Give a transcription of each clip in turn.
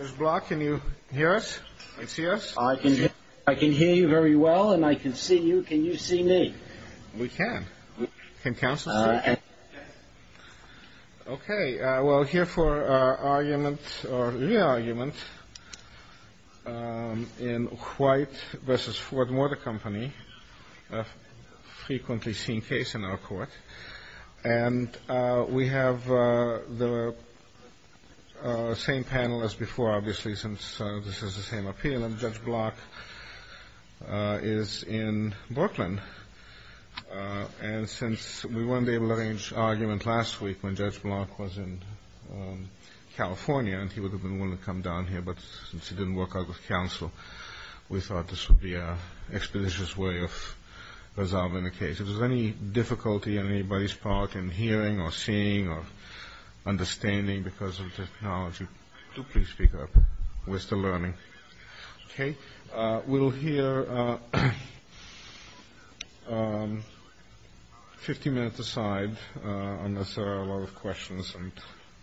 Mr. Bloch, can you hear us and see us? I can hear you very well, and I can see you. Can you see me? We can. Can counsel see you? Okay, we're here for our argument, or re-argument, in White v. Ford Motor Company, a frequently seen case in our court. And we have the same panel as before, obviously, since this is the same appeal, and Judge Bloch is in Brooklyn. And since we weren't able to arrange an argument last week when Judge Bloch was in California, and he would have been willing to come down here, but since he didn't work out with counsel, we thought this would be an expeditious way of resolving the case. If there's any difficulty on anybody's part in hearing or seeing or understanding because of technology, do please speak up. We're still learning. Okay, we'll hear 50 minutes aside, unless there are a lot of questions, and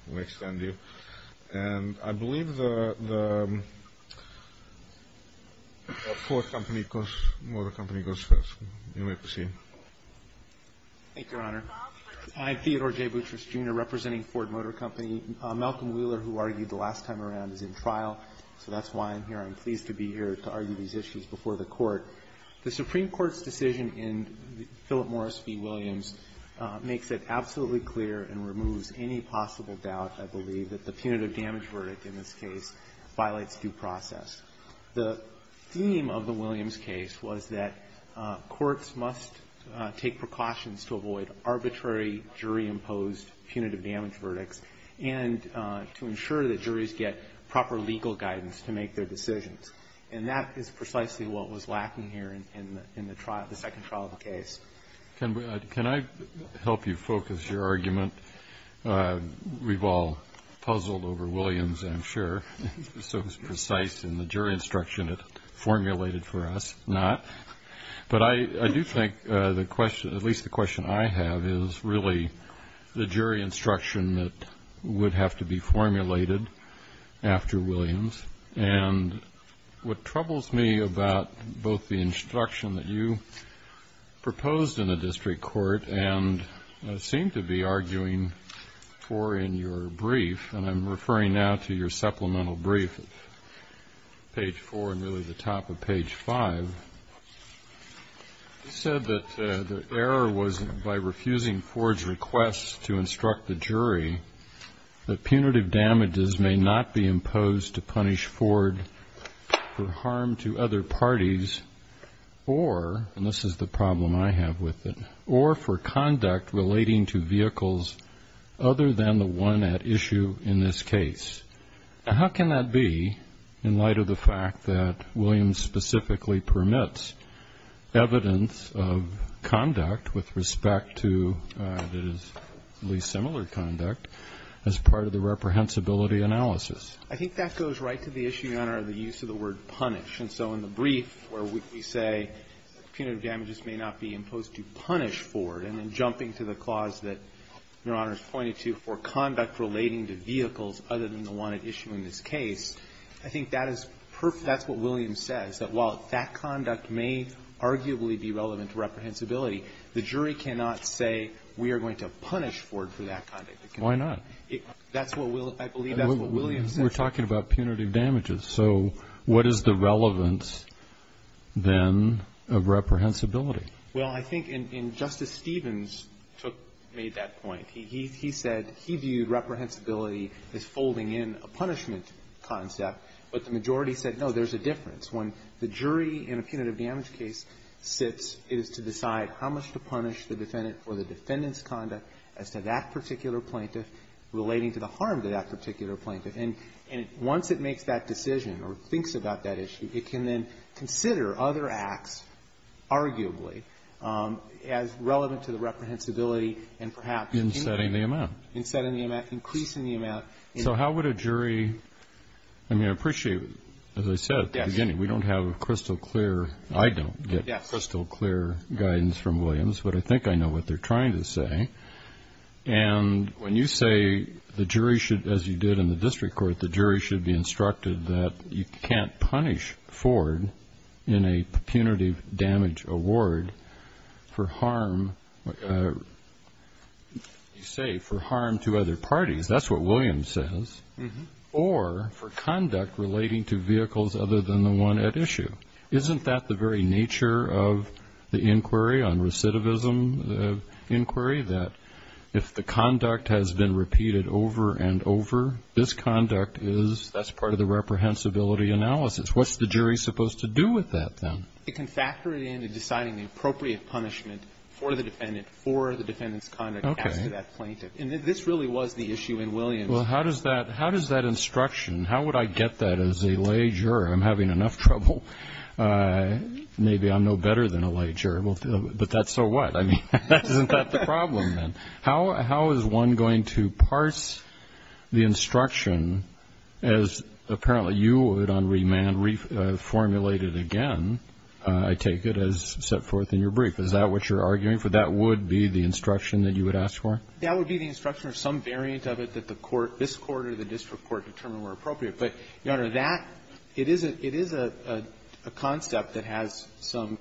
we'll extend you. And I believe the Ford Motor Company goes first. You may proceed. Thank you, Your Honor. I'm Theodore J. Boutrous, Jr., representing Ford Motor Company. Malcolm Wheeler, who argued the last time around, is in trial, so that's why I'm here. I'm pleased to be here to argue these issues before the Court. The Supreme Court's decision in Philip Morris v. Williams makes it absolutely clear and removes any possible doubt, I believe, that the punitive damage verdict in this case violates due process. The theme of the Williams case was that courts must take precautions to avoid arbitrary jury-imposed punitive damage verdicts and to ensure that juries get proper legal guidance to make their decisions. And that is precisely what was lacking here in the second trial of the case. Can I help you focus your argument? We've all puzzled over Williams, I'm sure. It's so precise in the jury instruction it formulated for us. Not. But I do think the question, at least the question I have, is really the jury instruction that would have to be formulated after Williams. And what troubles me about both the instruction that you proposed in the district court and seem to be arguing for in your brief, and I'm referring now to your supplemental brief at page 4 and really the top of page 5, you said that the error was by refusing Ford's request to instruct the jury that punitive damages may not be imposed to punish Ford for harm to other parties or, and this is the problem I have with it, or for conduct relating to vehicles other than the one at issue in this case. How can that be in light of the fact that Williams specifically permits evidence of conduct with respect to at least similar conduct as part of the reprehensibility analysis? I think that goes right to the issue, Your Honor, of the use of the word punish. And so in the brief where we say punitive damages may not be imposed to punish Ford, and then jumping to the clause that Your Honor has pointed to for conduct relating to vehicles other than the one at issue in this case, I think that is perfect. That's what Williams says, that while that conduct may arguably be relevant to reprehensibility, the jury cannot say we are going to punish Ford for that conduct. Why not? That's what I believe that's what Williams says. We're talking about punitive damages. So what is the relevance then of reprehensibility? Well, I think Justice Stevens made that point. He said he viewed reprehensibility as folding in a punishment concept, but the majority said, no, there's a difference. When the jury in a punitive damage case sits, it is to decide how much to punish the defendant for the defendant's conduct as to that particular plaintiff relating to the harm to that particular plaintiff. And once it makes that decision or thinks about that issue, it can then consider other acts, arguably, as relevant to the reprehensibility and perhaps increasing the amount. In setting the amount. Increasing the amount. So how would a jury, I mean, I appreciate, as I said at the beginning, we don't have crystal clear, I don't get crystal clear guidance from Williams, but I think I know what they're trying to say. And when you say the jury should, as you did in the district court, the jury should be instructed that you can't punish Ford in a punitive damage award for harm, you say, for harm to other parties. That's what Williams says. Or for conduct relating to vehicles other than the one at issue. Isn't that the very nature of the inquiry on recidivism inquiry? That if the conduct has been repeated over and over, this conduct is, that's part of the reprehensibility analysis. What's the jury supposed to do with that, then? It can factor it into deciding the appropriate punishment for the defendant for the defendant's conduct as to that plaintiff. And this really was the issue in Williams. Well, how does that instruction, how would I get that as a lay juror? I'm having enough trouble. Maybe I'm no better than a lay juror. But that's so what? I mean, isn't that the problem, then? How is one going to parse the instruction as apparently you would on remand reformulate it again, I take it, as set forth in your brief? Is that what you're arguing for? That would be the instruction that you would ask for? That would be the instruction or some variant of it that the court, this Court or the district court, determine where appropriate. But, Your Honor, that, it is a concept that has some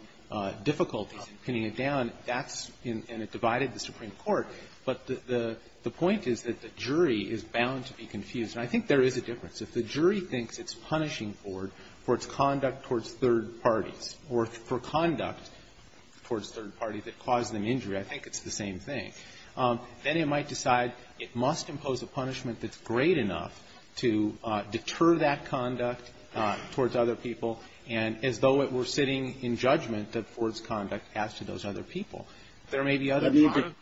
difficulties in pinning it down. That's, and it divided the Supreme Court. But the point is that the jury is bound to be confused. And I think there is a difference. If the jury thinks it's punishing Ford for its conduct towards third parties or for conduct towards third parties that caused them injury, I think it's the same thing. Then it might decide it must impose a punishment that's great enough to deter that conduct towards other people and as though it were sitting in judgment that Ford's conduct has to those other people. There may be other reasons.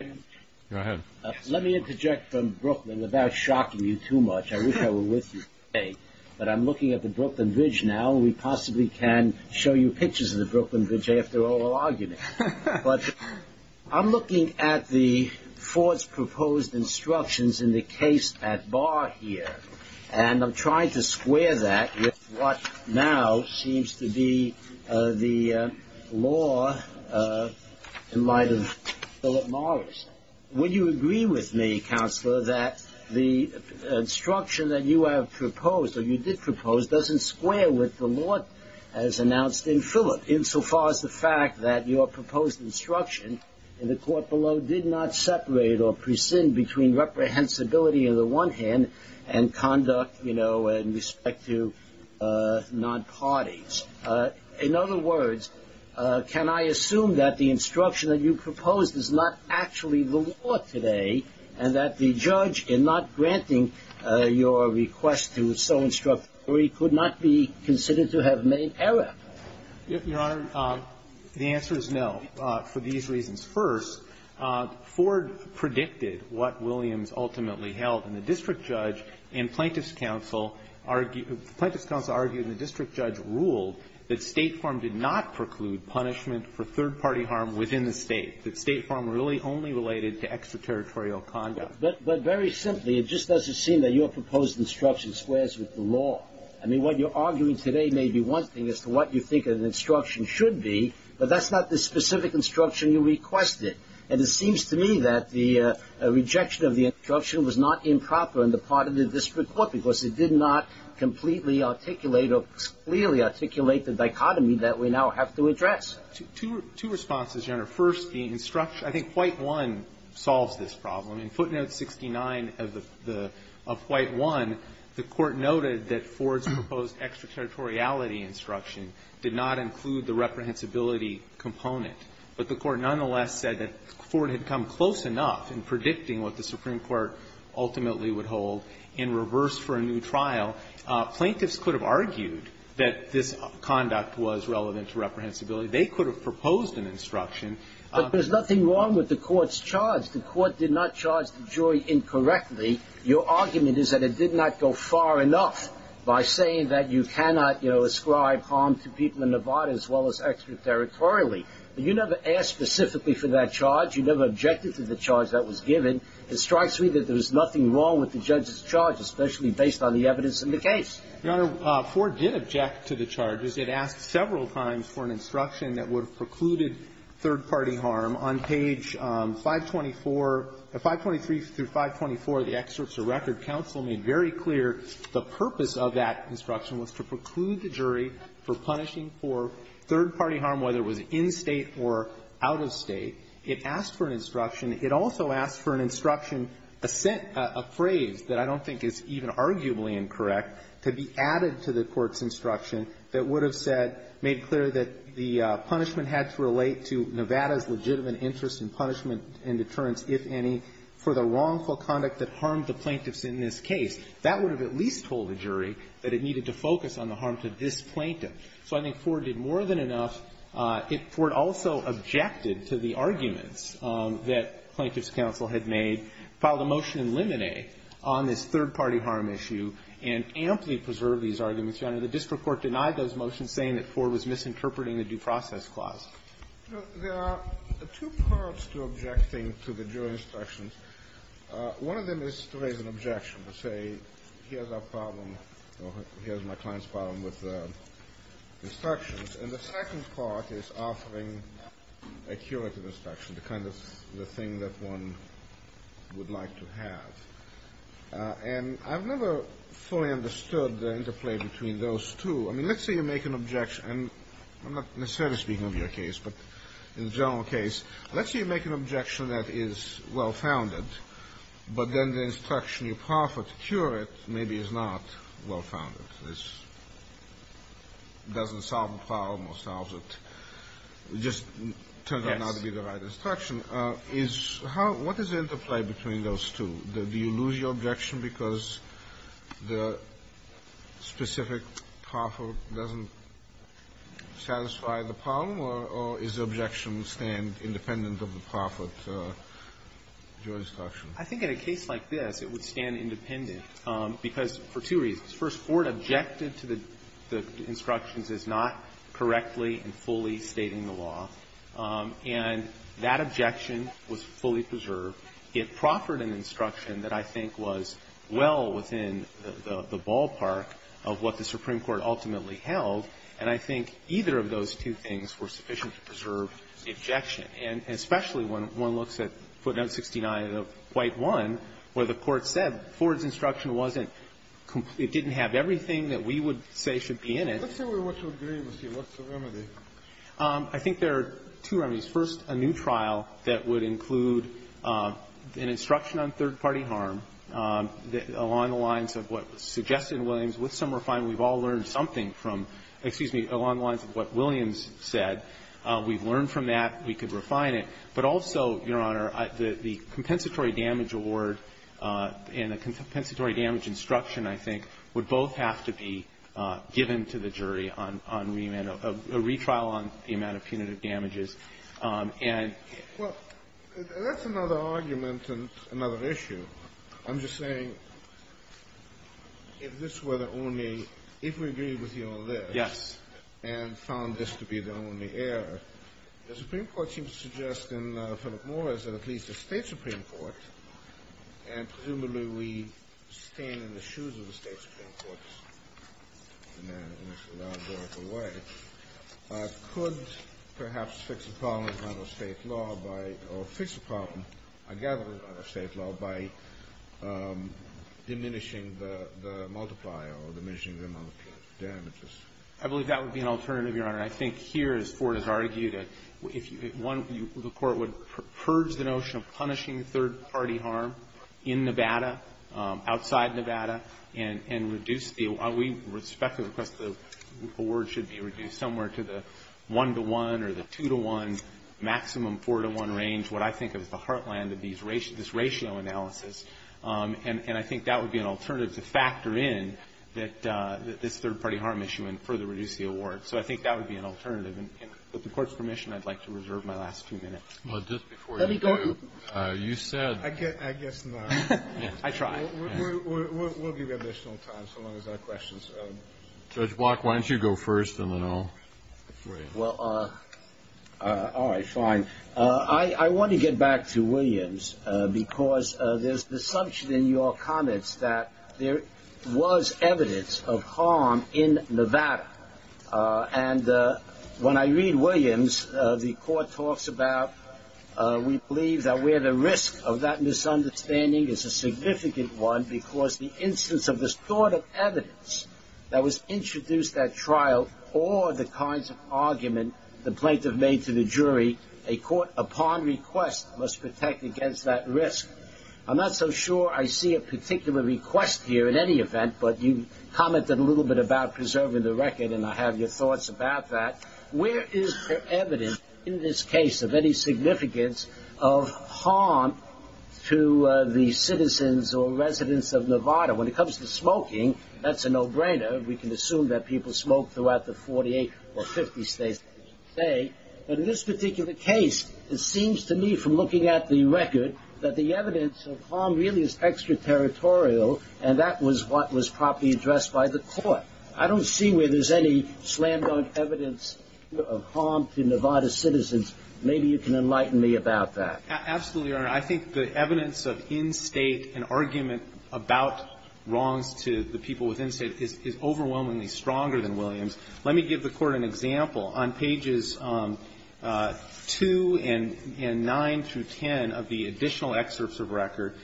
Let me interject from Brooklyn without shocking you too much. I wish I were with you today. But I'm looking at the Brooklyn Bridge now. We possibly can show you pictures of the Brooklyn Bridge after all our arguments. But I'm looking at the Ford's proposed instructions in the case at bar here. And I'm trying to square that with what now seems to be the law in light of Philip Morris. Would you agree with me, Counselor, that the instruction that you have proposed or you did propose doesn't square with the law as announced in Philip in so far as the fact that your proposed instruction in the court below did not separate or prescind between reprehensibility on the one hand and conduct, you know, in respect to non-parties? In other words, can I assume that the instruction that you proposed is not actually the law today and that the judge in not granting your request to so instruct the jury could not be considered to have made error? Your Honor, the answer is no for these reasons. First, Ford predicted what Williams ultimately held. And the district judge and plaintiff's counsel argued the district judge ruled that State Farm did not preclude punishment for third-party harm within the State, that State Farm really only related to extraterritorial conduct. But very simply, it just doesn't seem that your proposed instruction squares with the law. I mean, what you're arguing today may be one thing as to what you think an instruction should be, but that's not the specific instruction you requested. And it seems to me that the rejection of the instruction was not improper on the part of the district court because it did not completely articulate or clearly articulate the dichotomy that we now have to address. Two responses, Your Honor. First, the instruction – I think Flight 1 solves this problem. In footnote 69 of the – of Flight 1, the Court noted that Ford's proposed extraterritoriality instruction did not include the reprehensibility component. But the Court nonetheless said that Ford had come close enough in predicting what the Supreme Court ultimately would hold. In reverse for a new trial, plaintiffs could have argued that this conduct was relevant to reprehensibility. They could have proposed an instruction. But there's nothing wrong with the Court's charge. The Court did not charge the jury incorrectly. Your argument is that it did not go far enough by saying that you cannot, you know, ascribe harm to people in Nevada as well as extraterritorially. You never asked specifically for that charge. You never objected to the charge that was given. It strikes me that there's nothing wrong with the judge's charge, especially based on the evidence in the case. Your Honor, Ford did object to the charges. It asked several times for an instruction that would have precluded third-party harm on page 524 – 523 through 524 of the excerpts of record. Counsel made very clear the purpose of that instruction was to preclude the jury for punishing for third-party harm, whether it was in State or out of State. It asked for an instruction. It also asked for an instruction, a phrase that I don't think is even arguably incorrect, to be added to the Court's instruction that would have said, made clear that the punishment had to relate to Nevada's legitimate interest in punishment and deterrence, if any, for the wrongful conduct that harmed the plaintiffs in this case. That would have at least told the jury that it needed to focus on the harm to this plaintiff. So I think Ford did more than enough. Ford also objected to the arguments that Plaintiffs' Counsel had made, filed a motion in Lemonnet on this third-party harm issue, and amply preserved these arguments. Your Honor, the district court denied those motions, saying that Ford was misinterpreting the due process clause. There are two parts to objecting to the jury instructions. One of them is to raise an objection, to say, here's our problem, or here's my client's problem with the instructions. And the second part is offering a curative instruction, the kind of thing that one would like to have. And I've never fully understood the interplay between those two. I mean, let's say you make an objection, and I'm not necessarily speaking of your case, but in the general case, let's say you make an objection that is well-founded, but then the instruction you proffer to cure it maybe is not well-founded. It doesn't solve the problem or solves it. It just turns out not to be the right instruction. Is how — what is the interplay between those two? Do you lose your objection because the specific proffer doesn't satisfy the problem, or is the objection stand independent of the proffer to your instruction? I think in a case like this, it would stand independent, because for two reasons. First, Ford objected to the instructions as not correctly and fully stating the law. And that objection was fully preserved. It proffered an instruction that I think was well within the ballpark of what the Supreme Court ultimately held, and I think either of those two things were sufficient to preserve the objection. And especially when one looks at footnote 69 of White 1, where the Court said Ford's instruction wasn't complete. It didn't have everything that we would say should be in it. Let's say we want to agree with you. What's the remedy? I think there are two remedies. First, a new trial that would include an instruction on third-party harm along the lines of what was suggested in Williams. With some refinement, we've all learned something from — excuse me, along the lines of what Williams said. We've learned from that. We could refine it. But also, Your Honor, the compensatory damage award and the compensatory damage instruction, I think, would both have to be given to the jury on remand, a retrial on the amount of punitive damages. And — Well, that's another argument and another issue. I'm just saying, if this were the only — if we agreed with you on this — Yes. — and found this to be the only error, the Supreme Court seems to suggest in Philip Morris that at least the State Supreme Court, and presumably we stand in the shoes of the State Supreme Courts in a large or equal way, could perhaps fix a problem in front of State law by — or fix a problem, I gather, in front of State law by diminishing the multiplier or diminishing the amount of damages. I believe that would be an alternative, Your Honor. I think here, as Ford has argued, if you — one, the Court would purge the notion of punishing third-party harm in Nevada, outside Nevada, and reduce the — while we respectfully request the award should be reduced somewhere to the one-to-one or the two-to-one, maximum four-to-one range, what I think is the heartland of these — this ratio analysis. And I think that would be an alternative to factor in this third-party harm issue and further reduce the award. So I think that would be an alternative. And with the Court's permission, I'd like to reserve my last few minutes. Let me go — You said — I guess not. I try. We'll give you additional time, so long as there are questions. Judge Block, why don't you go first, and then I'll wait. Well, all right, fine. I want to get back to Williams, because there's the assumption in your comments that there was evidence of harm in Nevada. And when I read Williams, the Court talks about, we believe that where the risk of that misunderstanding is a significant one, because the instance of distorted evidence that was introduced at trial or the kinds of argument the plaintiff made to the jury, a court, upon request, must protect against that risk. I'm not so sure I see a particular request here in any event, but you commented a little bit about preserving the record, and I have your thoughts about that. Where is there evidence in this case of any significance of harm to the citizens or residents of Nevada? When it comes to smoking, that's a no-brainer. We can assume that people smoke throughout the 48 or 50 states that we say. But in this particular case, it seems to me from looking at the record that the evidence of harm really is extraterritorial, and that was what was properly addressed by the Court. I don't see where there's any slam-dunk evidence of harm to Nevada citizens. Maybe you can enlighten me about that. Absolutely, Your Honor. I think the evidence of in-state and argument about wrongs to the people within state is overwhelmingly stronger than Williams. Let me give the Court an example. On pages 2 and 9 through 10 of the additional excerpts of record,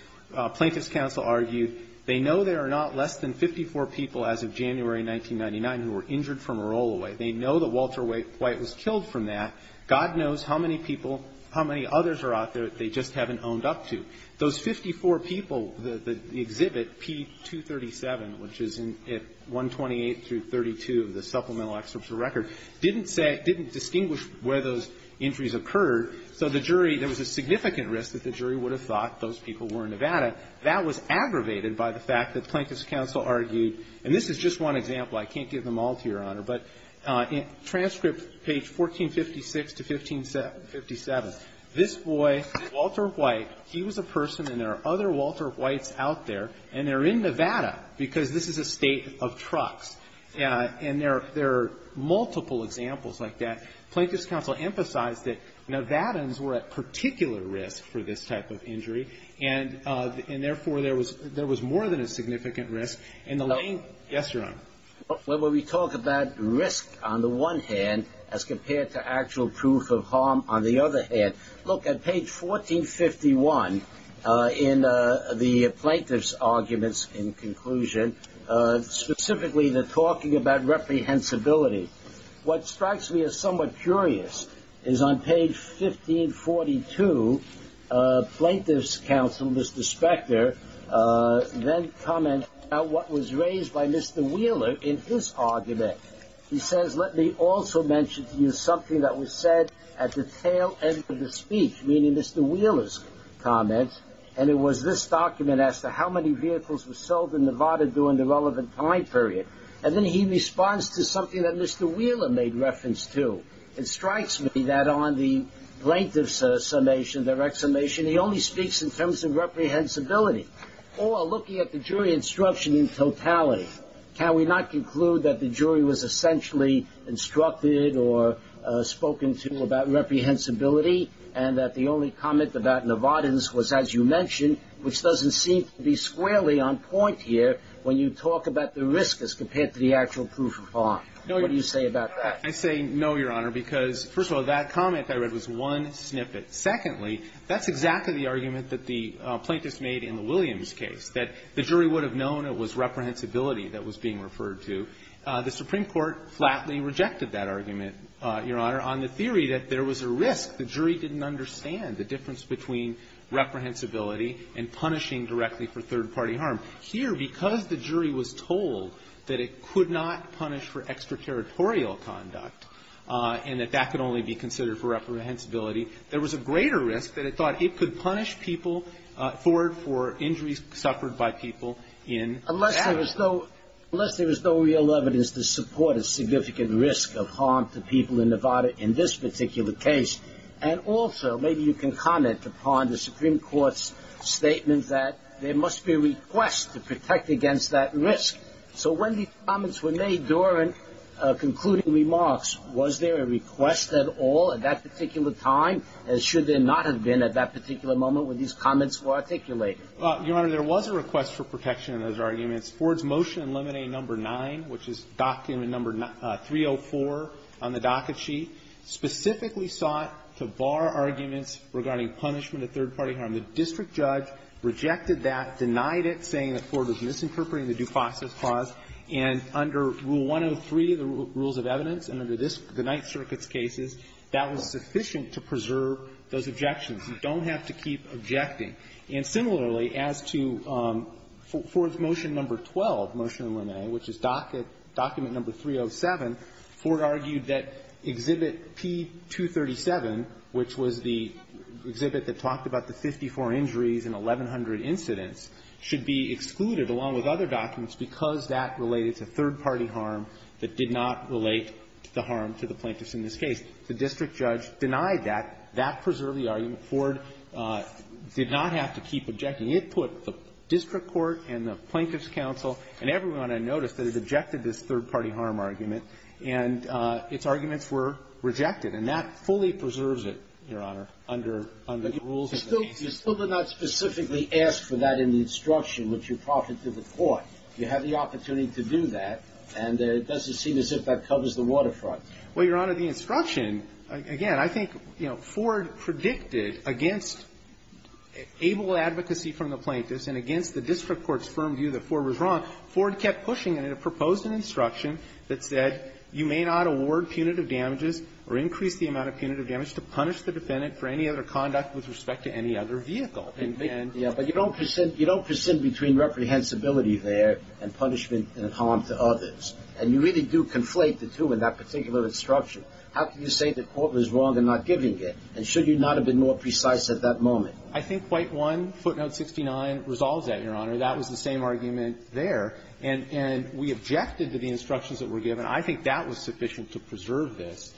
plaintiff's counsel argued, they know there are not less than 54 people as of January 1999 who were injured from a roll-away. They know that Walter White was killed from that. God knows how many people, how many others are out there that they just haven't owned up to. Those 54 people, the exhibit, P237, which is at 128 through 32 of the supplemental excerpts of record, didn't distinguish where those injuries occurred, so the jury, there was a significant risk that the jury would have thought those people were in Nevada. That was aggravated by the fact that plaintiff's counsel argued, and this is just one example, I can't give them all to you, Your Honor, but in transcript page 1456 to 1557, this boy, Walter White, he was a person and there are other Walter Whites out there, and they're in Nevada because this is a state of trucks. And there are multiple examples like that. Plaintiff's counsel emphasized that Nevadans were at particular risk for this type of injury, and, therefore, there was more than a significant risk. Yes, Your Honor. Well, when we talk about risk on the one hand as compared to actual proof of harm on the other hand, look at page 1451 in the plaintiff's arguments in conclusion, specifically they're talking about reprehensibility. What strikes me as somewhat curious is on page 1542, plaintiff's counsel, Mr. Spector, then comments about what was raised by Mr. Wheeler in his argument. He says, let me also mention to you something that was said at the tail end of the speech, meaning Mr. Wheeler's comments, and it was this document as to how many vehicles were sold in Nevada during the relevant time period. And then he responds to something that Mr. Wheeler made reference to. It strikes me that on the plaintiff's summation, direct summation, he only speaks in terms of reprehensibility. Or, looking at the jury instruction in totality, can we not conclude that the jury was essentially instructed or spoken to about reprehensibility, and that the only comment about Nevadans was, as you mentioned, which doesn't seem to be squarely on point here when you talk about the risk as compared to the actual proof of harm? What do you say about that? I say no, Your Honor, because, first of all, that comment I read was one snippet. Secondly, that's exactly the argument that the plaintiffs made in the Williams case, that the jury would have known it was reprehensibility that was being referred to. The Supreme Court flatly rejected that argument, Your Honor, on the theory that there was a risk. The jury didn't understand the difference between reprehensibility and punishing directly for third-party harm. Here, because the jury was told that it could not punish for extraterritorial conduct and that that could only be considered for reprehensibility, there was a greater risk that it thought it could punish people for injuries suffered by people in action. Unless there was no real evidence to support a significant risk of harm to people in Nevada in this particular case, and also maybe you can comment upon the Supreme Court's statement that there must be a request to protect against that risk. So when these comments were made during concluding remarks, was there a request at all at that particular time? And should there not have been at that particular moment when these comments were articulated? Your Honor, there was a request for protection in those arguments. Ford's motion in limine number 9, which is document number 304 on the docket sheet, specifically sought to bar arguments regarding punishment of third-party harm. The district judge rejected that, denied it, saying that Ford was misinterpreting the due process clause. And under Rule 103, the rules of evidence, and under this, the Ninth Circuit's cases, that was sufficient to preserve those objections. You don't have to keep objecting. And similarly, as to Ford's motion number 12, motion in limine, which is docket number 307, Ford argued that Exhibit P237, which was the exhibit that talked about the 54 injuries and 1,100 incidents, should be excluded, along with other documents, because that related to third-party harm that did not relate to the harm to the plaintiffs in this case. The district judge denied that. That preserved the argument. Ford did not have to keep objecting. It put the district court and the Plaintiffs' Counsel and everyone on a notice that it objected this third-party harm argument. And its arguments were rejected. And that fully preserves it, Your Honor, under the rules of the case. But you still did not specifically ask for that in the instruction, which you proffered to the court. You had the opportunity to do that, and it doesn't seem as if that covers the waterfront. Well, Your Honor, the instruction, again, I think, you know, Ford predicted against able advocacy from the plaintiffs and against the district court's firm view that Ford was wrong. Ford kept pushing it. It proposed an instruction that said, You may not award punitive damages or increase the amount of punitive damage to punish the defendant for any other conduct with respect to any other vehicle. And they didn't. Yeah. But you don't present between reprehensibility there and punishment and harm to others. And you really do conflate the two in that particular instruction. How can you say the court was wrong in not giving it? And should you not have been more precise at that moment? I think quite one, footnote 69, resolves that, Your Honor. That was the same argument there. And we objected to the instructions that were given. I think that was sufficient to preserve this,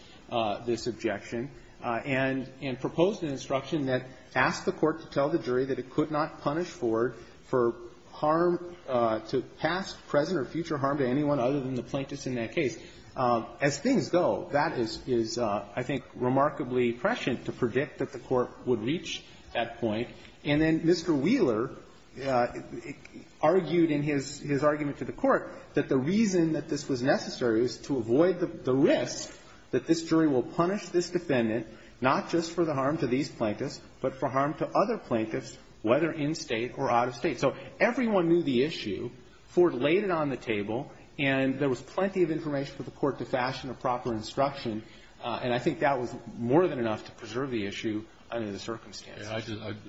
this objection. And proposed an instruction that asked the court to tell the jury that it could not punish Ford for harm to past, present, or future harm to anyone other than the plaintiffs in that case. As things go, that is, I think, remarkably prescient to predict that the court would reach that point. And then Mr. Wheeler argued in his argument to the court that the reason that this was necessary was to avoid the risk that this jury will punish this defendant, not just for the harm to these plaintiffs, but for harm to other plaintiffs, whether in State or out of State. So everyone knew the issue. Ford laid it on the table. And there was plenty of information for the court to fashion a proper instruction. And I think that was more than enough to preserve the issue under the circumstances. I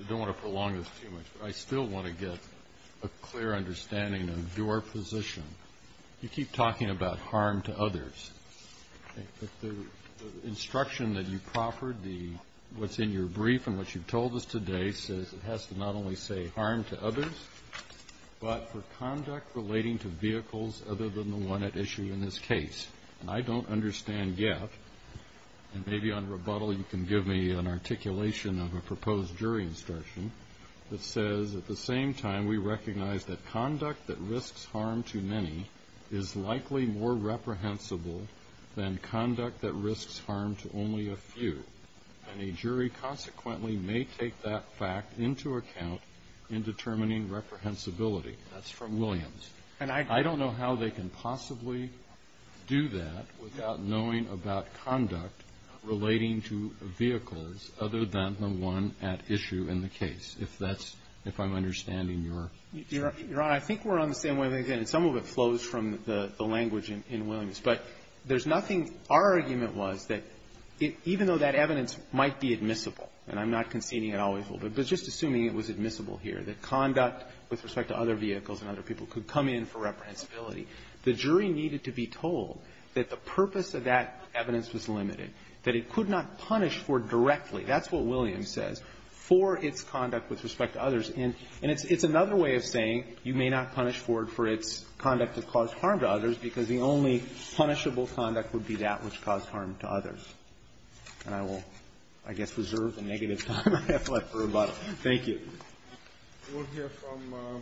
don't want to prolong this too much. I still want to get a clear understanding of your position. You keep talking about harm to others. The instruction that you proffered, what's in your brief and what you told us today says it has to not only say harm to others, but for conduct relating to vehicles other than the one at issue in this case. And I don't understand yet, and maybe on rebuttal you can give me an articulation of a proposed jury instruction that says at the same time we recognize that conduct that risks harm to many is likely more reprehensible than conduct that risks harm to only a few. And a jury consequently may take that fact into account in determining reprehensibility. That's from Williams. And I don't know how they can possibly do that without knowing about conduct relating to vehicles other than the one at issue in the case, if that's — if I'm understanding your — Your Honor, I think we're on the same wavelength. And some of it flows from the language in Williams. But there's nothing — our argument was that even though that evidence might be admissible — and I'm not conceding it always will be, but just assuming it was admissible here — that conduct with respect to other vehicles and other people could come in for reprehensibility, the jury needed to be told that the purpose of that evidence was limited, that it could not punish Ford directly. That's what Williams says. For its conduct with respect to others. And it's another way of saying you may not punish Ford for its conduct that caused harm to others because the only punishable conduct would be that which caused harm to others. And I will, I guess, reserve the negative time I have left for rebuttal. Thank you. We'll hear from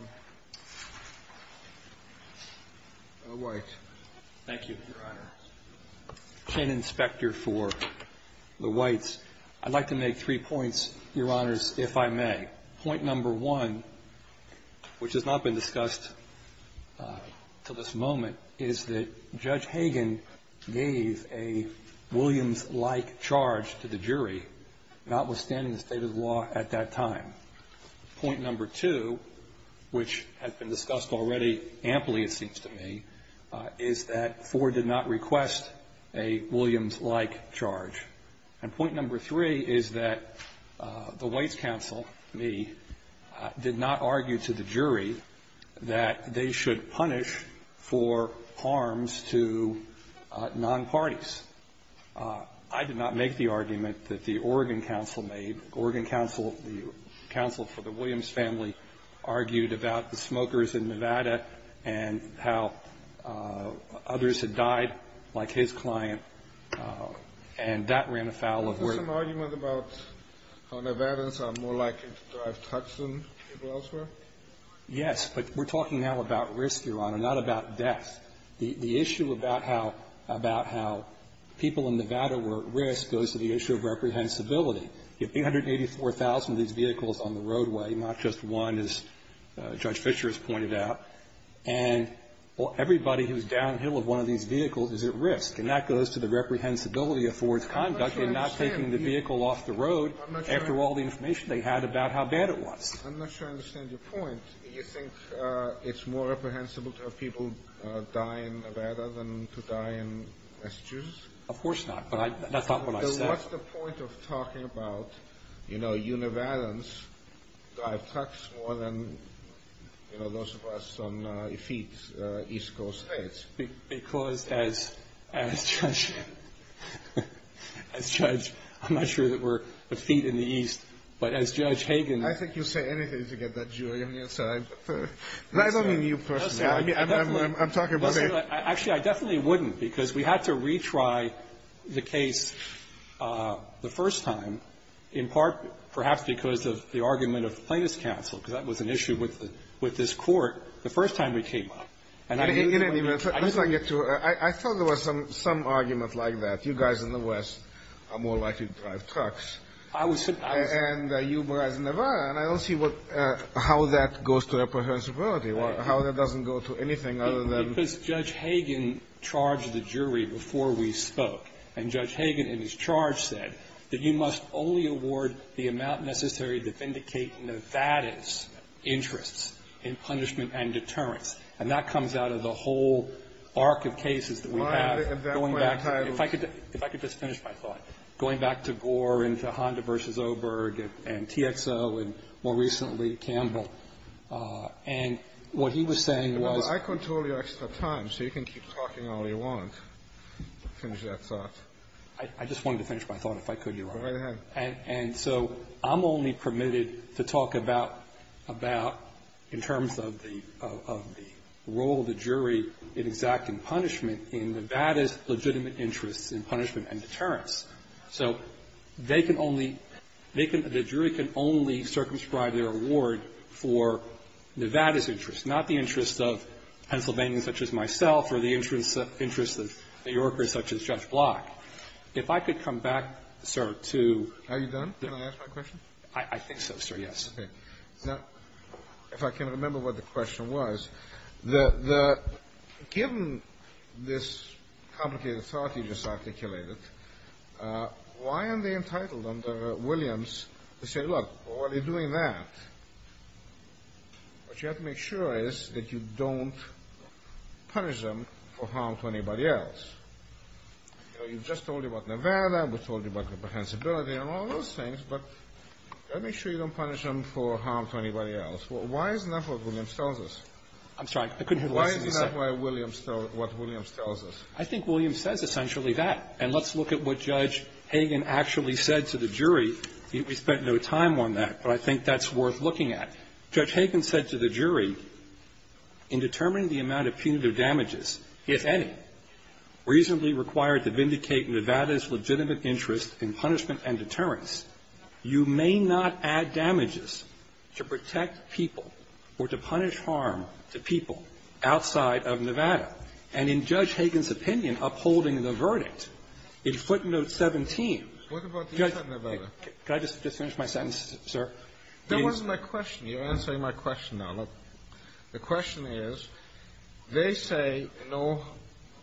White. Thank you, Your Honor. Ken Inspector for the Whites. I'd like to make three points, Your Honors, if I may. Point number one, which has not been discussed until this moment, is that Judge Hagan gave a Williams-like charge to the jury, notwithstanding the state of the law at that time. Point number two, which has been discussed already amply, it seems to me, is that Judge Hagan did not request a Williams-like charge. And point number three is that the Whites' counsel, me, did not argue to the jury that they should punish for harms to non-parties. I did not make the argument that the Oregon counsel made. Oregon counsel, the counsel for the Williams family, argued about the smokers in Nevada, like his client, and that ran afoul of work. Was there some argument about how Nevadans are more likely to drive Tucks than people elsewhere? Yes, but we're talking now about risk, Your Honor, not about death. The issue about how people in Nevada were at risk goes to the issue of reprehensibility. You have 884,000 of these vehicles on the roadway, not just one, as Judge Fischer has pointed out, and everybody who's downhill of one of these vehicles is at risk. And that goes to the reprehensibility of Ford's conduct in not taking the vehicle off the road after all the information they had about how bad it was. I'm not sure I understand your point. You think it's more reprehensible to have people die in Nevada than to die in Massachusetts? Of course not, but that's not what I said. What's the point of talking about, you know, Nevadans drive Tucks more than, you know, those of us on feet east coast states? Because as Judge – I'm not sure that we're feet in the east, but as Judge Hagen – I think you'll say anything to get that jury on your side. I don't mean you personally. I'm talking about a – the first time, in part perhaps because of the argument of the Plaintiffs' Council, because that was an issue with this court, the first time we came up. I thought there was some argument like that. You guys in the west are more likely to drive trucks. I was – And you guys in Nevada. And I don't see how that goes to reprehensibility, how that doesn't go to anything other than – Because Judge Hagen charged the jury before we spoke. And Judge Hagen in his charge said that you must only award the amount necessary to vindicate Nevadans' interests in punishment and deterrence. And that comes out of the whole arc of cases that we have, going back to – Well, I think at that point I was – If I could just finish my thought. Going back to Gore and to Honda v. Oberg and TXO and more recently Campbell. And what he was saying was – Well, I control your extra time, so you can keep talking all you want. Finish that thought. I just wanted to finish my thought, if I could, Your Honor. Go right ahead. And so I'm only permitted to talk about – about in terms of the role of the jury in exacting punishment in Nevada's legitimate interests in punishment and deterrence. So they can only – they can – the jury can only circumscribe their award for Nevada's interests of Pennsylvanians such as myself or the interests of New Yorkers such as Judge Block. If I could come back, sir, to – Are you done? Did I ask my question? I think so, sir, yes. Okay. Now, if I can remember what the question was. Given this complicated thought you just articulated, why are they entitled under Williams to say, look, while they're doing that, what you have to make sure is that you don't punish them for harm to anybody else? You know, you just told me about Nevada. We told you about the pensibility and all those things, but you have to make sure you don't punish them for harm to anybody else. Why isn't that what Williams tells us? I'm sorry. I couldn't hear the question. Why isn't that what Williams tells us? I think Williams says essentially that. And let's look at what Judge Hagan actually said to the jury. We spent no time on that, but I think that's worth looking at. Judge Hagan said to the jury, in determining the amount of punitive damages, if any, reasonably required to vindicate Nevada's legitimate interest in punishment and deterrence, you may not add damages to protect people or to punish harm to people outside of Nevada. And in Judge Hagan's opinion, upholding the verdict, in footnote 17, what about inside Nevada? Could I just finish my sentence, sir? That wasn't my question. You're answering my question now. Look, the question is, they say, no,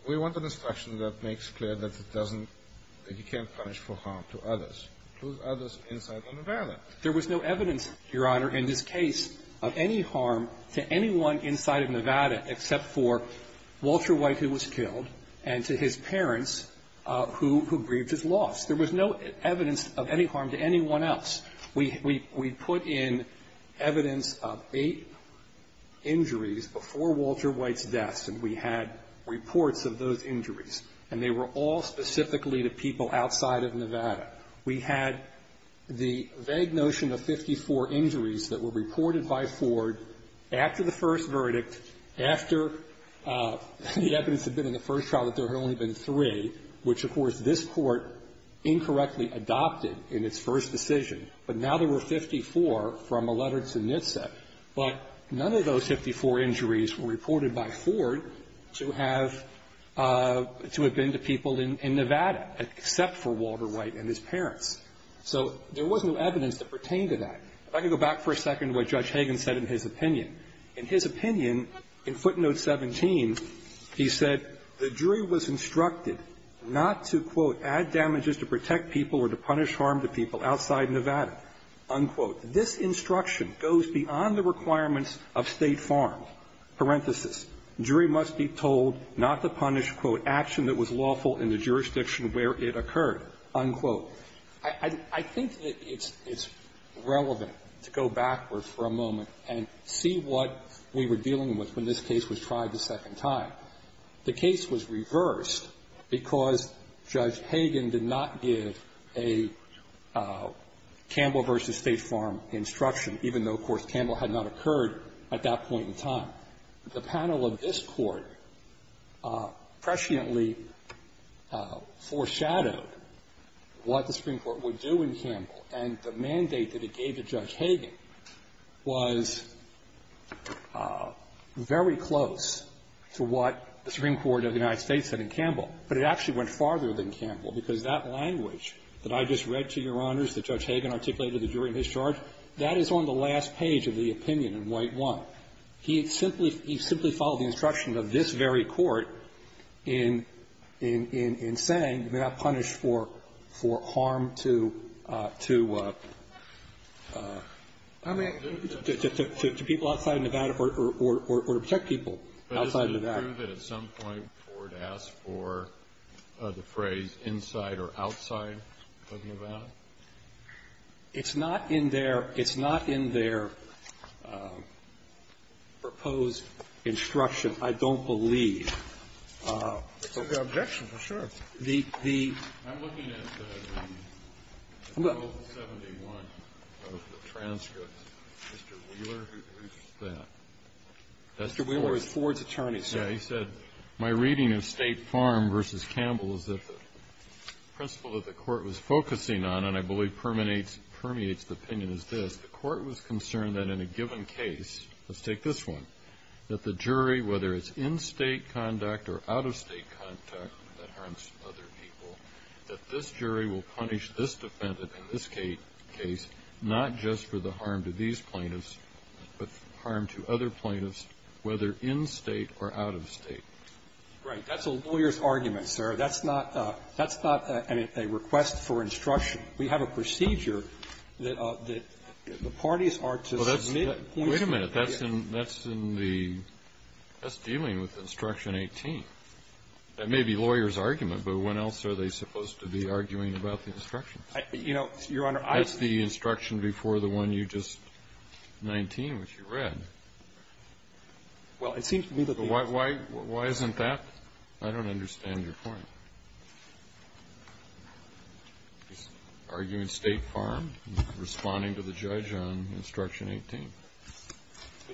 we want an instruction that makes clear that it doesn't, that you can't punish for harm to others, including others inside Nevada. There was no evidence, Your Honor, in this case of any harm to anyone inside of Nevada except for Walter White, who was killed, and to his parents, who grieved his loss. There was no evidence of any harm to anyone else. We put in evidence of eight injuries before Walter White's death, and we had reports of those injuries. And they were all specifically to people outside of Nevada. We had the vague notion of 54 injuries that were reported by Ford after the first verdict, after the evidence had been in the first trial that there had only been 53, which, of course, this Court incorrectly adopted in its first decision. But now there were 54 from a letter to NHTSA. But none of those 54 injuries were reported by Ford to have been to people in Nevada except for Walter White and his parents. So there was no evidence that pertained to that. If I could go back for a second to what Judge Hagan said in his opinion. In his opinion, in footnote 17, he said the jury was instructed not to, quote, add damages to protect people or to punish harm to people outside Nevada, unquote. This instruction goes beyond the requirements of State farm, parenthesis. Jury must be told not to punish, quote, action that was lawful in the jurisdiction where it occurred, unquote. So I think that it's relevant to go backwards for a moment and see what we were dealing with when this case was tried a second time. The case was reversed because Judge Hagan did not give a Campbell v. State farm instruction, even though, of course, Campbell had not occurred at that point in time. Now, the panel of this Court presciently foreshadowed what the Supreme Court would do in Campbell, and the mandate that it gave to Judge Hagan was very close to what the Supreme Court of the United States said in Campbell. But it actually went farther than Campbell, because that language that I just read to Your Honors that Judge Hagan articulated to the jury in his charge, that is on the last page of the opinion in White 1. He simply followed the instruction of this very Court in saying you may not punish for harm to people outside of Nevada or to protect people outside of Nevada. But isn't it true that at some point the Court asked for the phrase, inside or outside of Nevada? It's not in their – it's not in their proposed instruction, I don't believe. The – the – Kennedy, I'm looking at the 1271 of the transcripts. Mr. Wheeler, who produced that, that's Ford's attorney, sir. He said, my reading of State farm v. Campbell is that the principle that the Court was focusing on, and I believe permeates the opinion, is this. The Court was concerned that in a given case, let's take this one, that the jury, whether it's in State conduct or out-of-State conduct that harms other people, that this jury will punish this defendant in this case not just for the harm to these plaintiffs, but harm to other plaintiffs, whether in State or out-of-State. Right. That's a lawyer's argument, sir. That's not a – that's not a request for instruction. We have a procedure that the parties are to submit points of opinion. Well, that's – wait a minute. That's in – that's in the – that's dealing with Instruction 18. That may be a lawyer's argument, but when else are they supposed to be arguing about the instructions? You know, Your Honor, I don't think so. That's the instruction before the one you just – 19, which you read. Well, it seems to me that the answer is no. Why isn't that? I don't understand your point. He's arguing State farm and responding to the judge on Instruction 18. Let me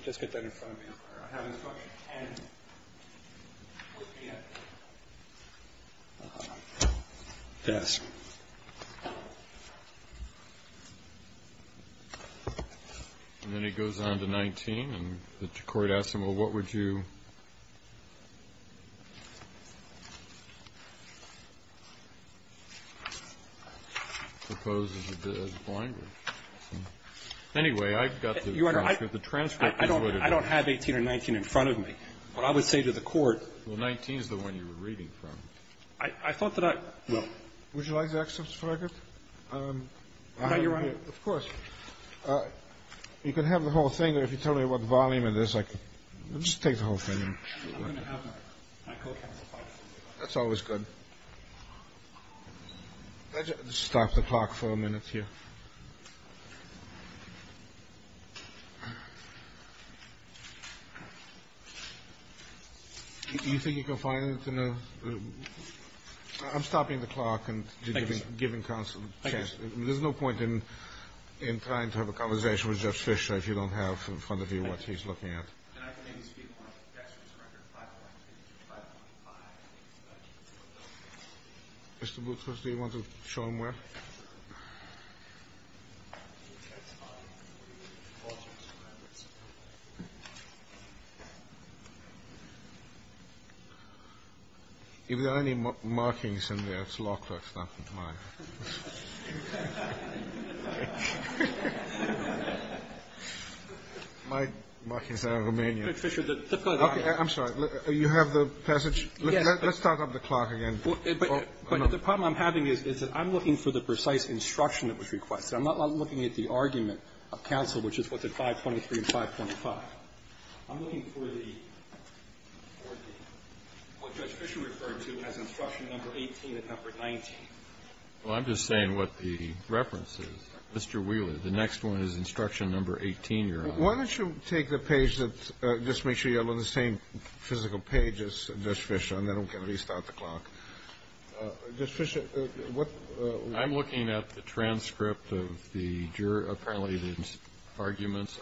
just get that in front of you, Your Honor. I have Instruction 10 with me at my desk. And then he goes on to 19, and the court asks him, well, what would you – I suppose it's a bit of a blinder. Anyway, I've got the transcript. Your Honor, I don't have 18 or 19 in front of me. What I would say to the court – Well, 19 is the one you were reading from. I thought that I – well – Would you like the excerpts, if I could? Your Honor, of course. You can have the whole thing, or if you tell me what volume it is, I can – Just take the whole thing. I'm going to have my court counsel file it for you. That's always good. Can I just stop the clock for a minute here? Do you think you can find it in a – I'm stopping the clock and giving counsel a chance. There's no point in trying to have a conversation with Jeff Fisher if you don't have in front of you what he's looking at. Can I maybe speak on the excerpts from record 5.1 to 5.5? Mr. Boutros, do you want to show them where? If there are any markings in there, it's law clerks, not mine. My markings are Romanian. Judge Fisher, the – I'm sorry. You have the passage? Yes. Let's start up the clock again. But the problem I'm having is that I'm looking for the precise instruction that was requested. I'm not looking at the argument of counsel, which is what's at 5.23 and 5.5. I'm looking for the – what Judge Fisher referred to as instruction number 18 and number 19. Well, I'm just saying what the reference is. Mr. Wheeler, the next one is instruction number 18 you're on. Why don't you take the page that – just make sure you're on the same physical page as Judge Fisher, and then we can restart the clock. Judge Fisher, what – I'm looking at the transcript of the – apparently the arguments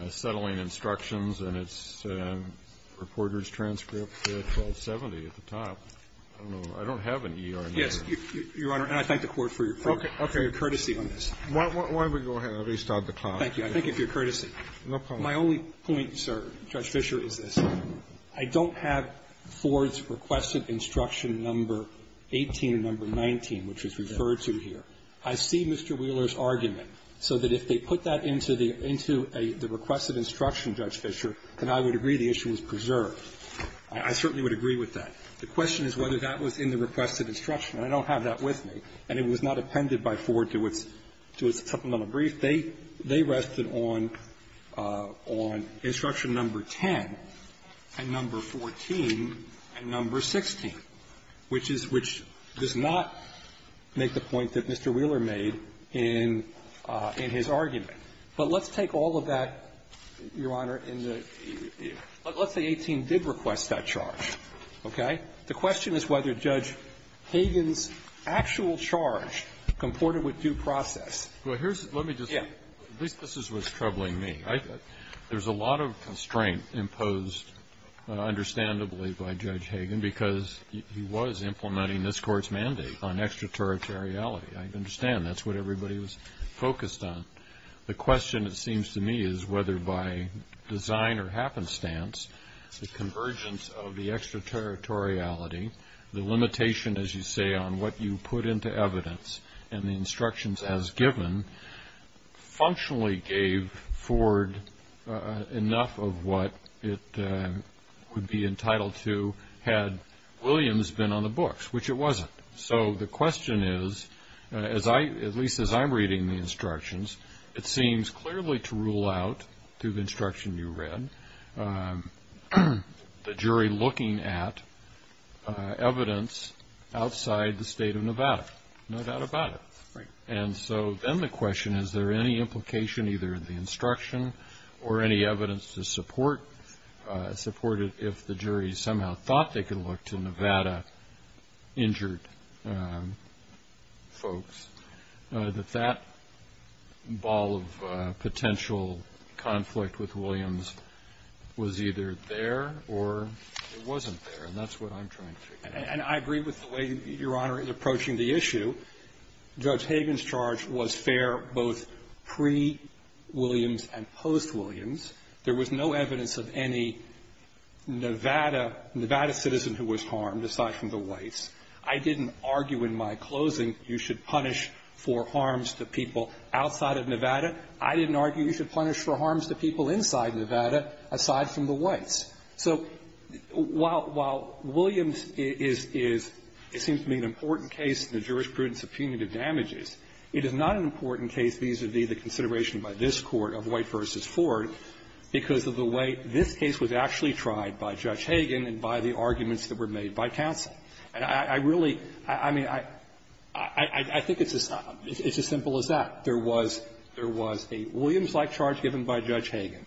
on settling instructions, and it's reporter's transcript 1270 at the top. I don't have any. Yes, Your Honor, and I thank the Court for your courtesy on this. Why don't we go ahead and restart the clock? Thank you. I thank you for your courtesy. No problem. My only point, sir, Judge Fisher, is this. I don't have Ford's requested instruction number 18 and number 19, which is referred to here. I see Mr. Wheeler's argument, so that if they put that into the requested instruction, Judge Fisher, then I would agree the issue was preserved. I certainly would agree with that. The question is whether that was in the requested instruction, and I don't have that with me, and it was not appended by Ford to its supplemental brief. They rested on instruction number 10 and number 14 and number 16, which is – which does not make the point that Mr. Wheeler made in his argument. But let's take all of that, Your Honor, in the – let's say 18 did request that The question is whether Judge Hagan's actual charge comported with due process. Well, here's – let me just – Yeah. At least this is what's troubling me. I – there's a lot of constraint imposed, understandably, by Judge Hagan, because he was implementing this Court's mandate on extraterritoriality. I understand that's what everybody was focused on. The question, it seems to me, is whether by design or happenstance, the convergence of the extraterritoriality, the limitation, as you say, on what you put into evidence and the instructions as given, functionally gave Ford enough of what it would be entitled to had Williams been on the books, which it wasn't. So the question is, as I – at least as I'm reading the instructions, it seems clearly to rule out, through the instruction you read, the jury looking at evidence outside the state of Nevada. No doubt about it. Right. And so then the question, is there any implication either in the instruction or any evidence to support it if the jury somehow thought they could look to Nevada-injured folks, that that ball of potential conflict with Williams was either there or it wasn't there? And that's what I'm trying to figure out. And I agree with the way Your Honor is approaching the issue. Judge Hagan's charge was fair both pre-Williams and post-Williams. There was no evidence of any Nevada citizen who was harmed, aside from the whites. I didn't argue in my closing you should punish for harms to people outside of Nevada. I didn't argue you should punish for harms to people inside Nevada, aside from the whites. So while – while Williams is – it seems to me an important case in the jurisprudence of punitive damages, it is not an important case vis-à-vis the consideration by this Court of White v. Ford because of the way this case was actually tried by Judge Hagan and by the arguments that were made by counsel. And I really – I mean, I think it's as simple as that. There was a Williams-like charge given by Judge Hagan.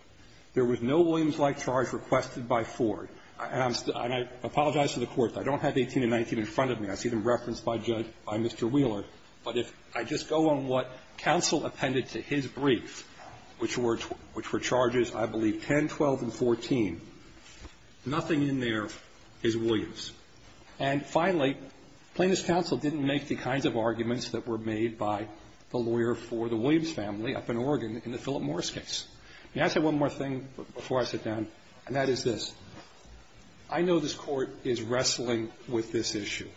There was no Williams-like charge requested by Ford. And I apologize to the Court. I don't have 18 and 19 in front of me. I see them referenced by Judge – by Mr. Wheeler. But if I just go on what counsel appended to his brief, which were charges, I believe, 10, 12, and 14, nothing in there is Williams. And finally, plaintiff's counsel didn't make the kinds of arguments that were made by the lawyer for the Williams family up in Oregon in the Philip Morris case. May I say one more thing before I sit down? And that is this. I know this Court is wrestling with this issue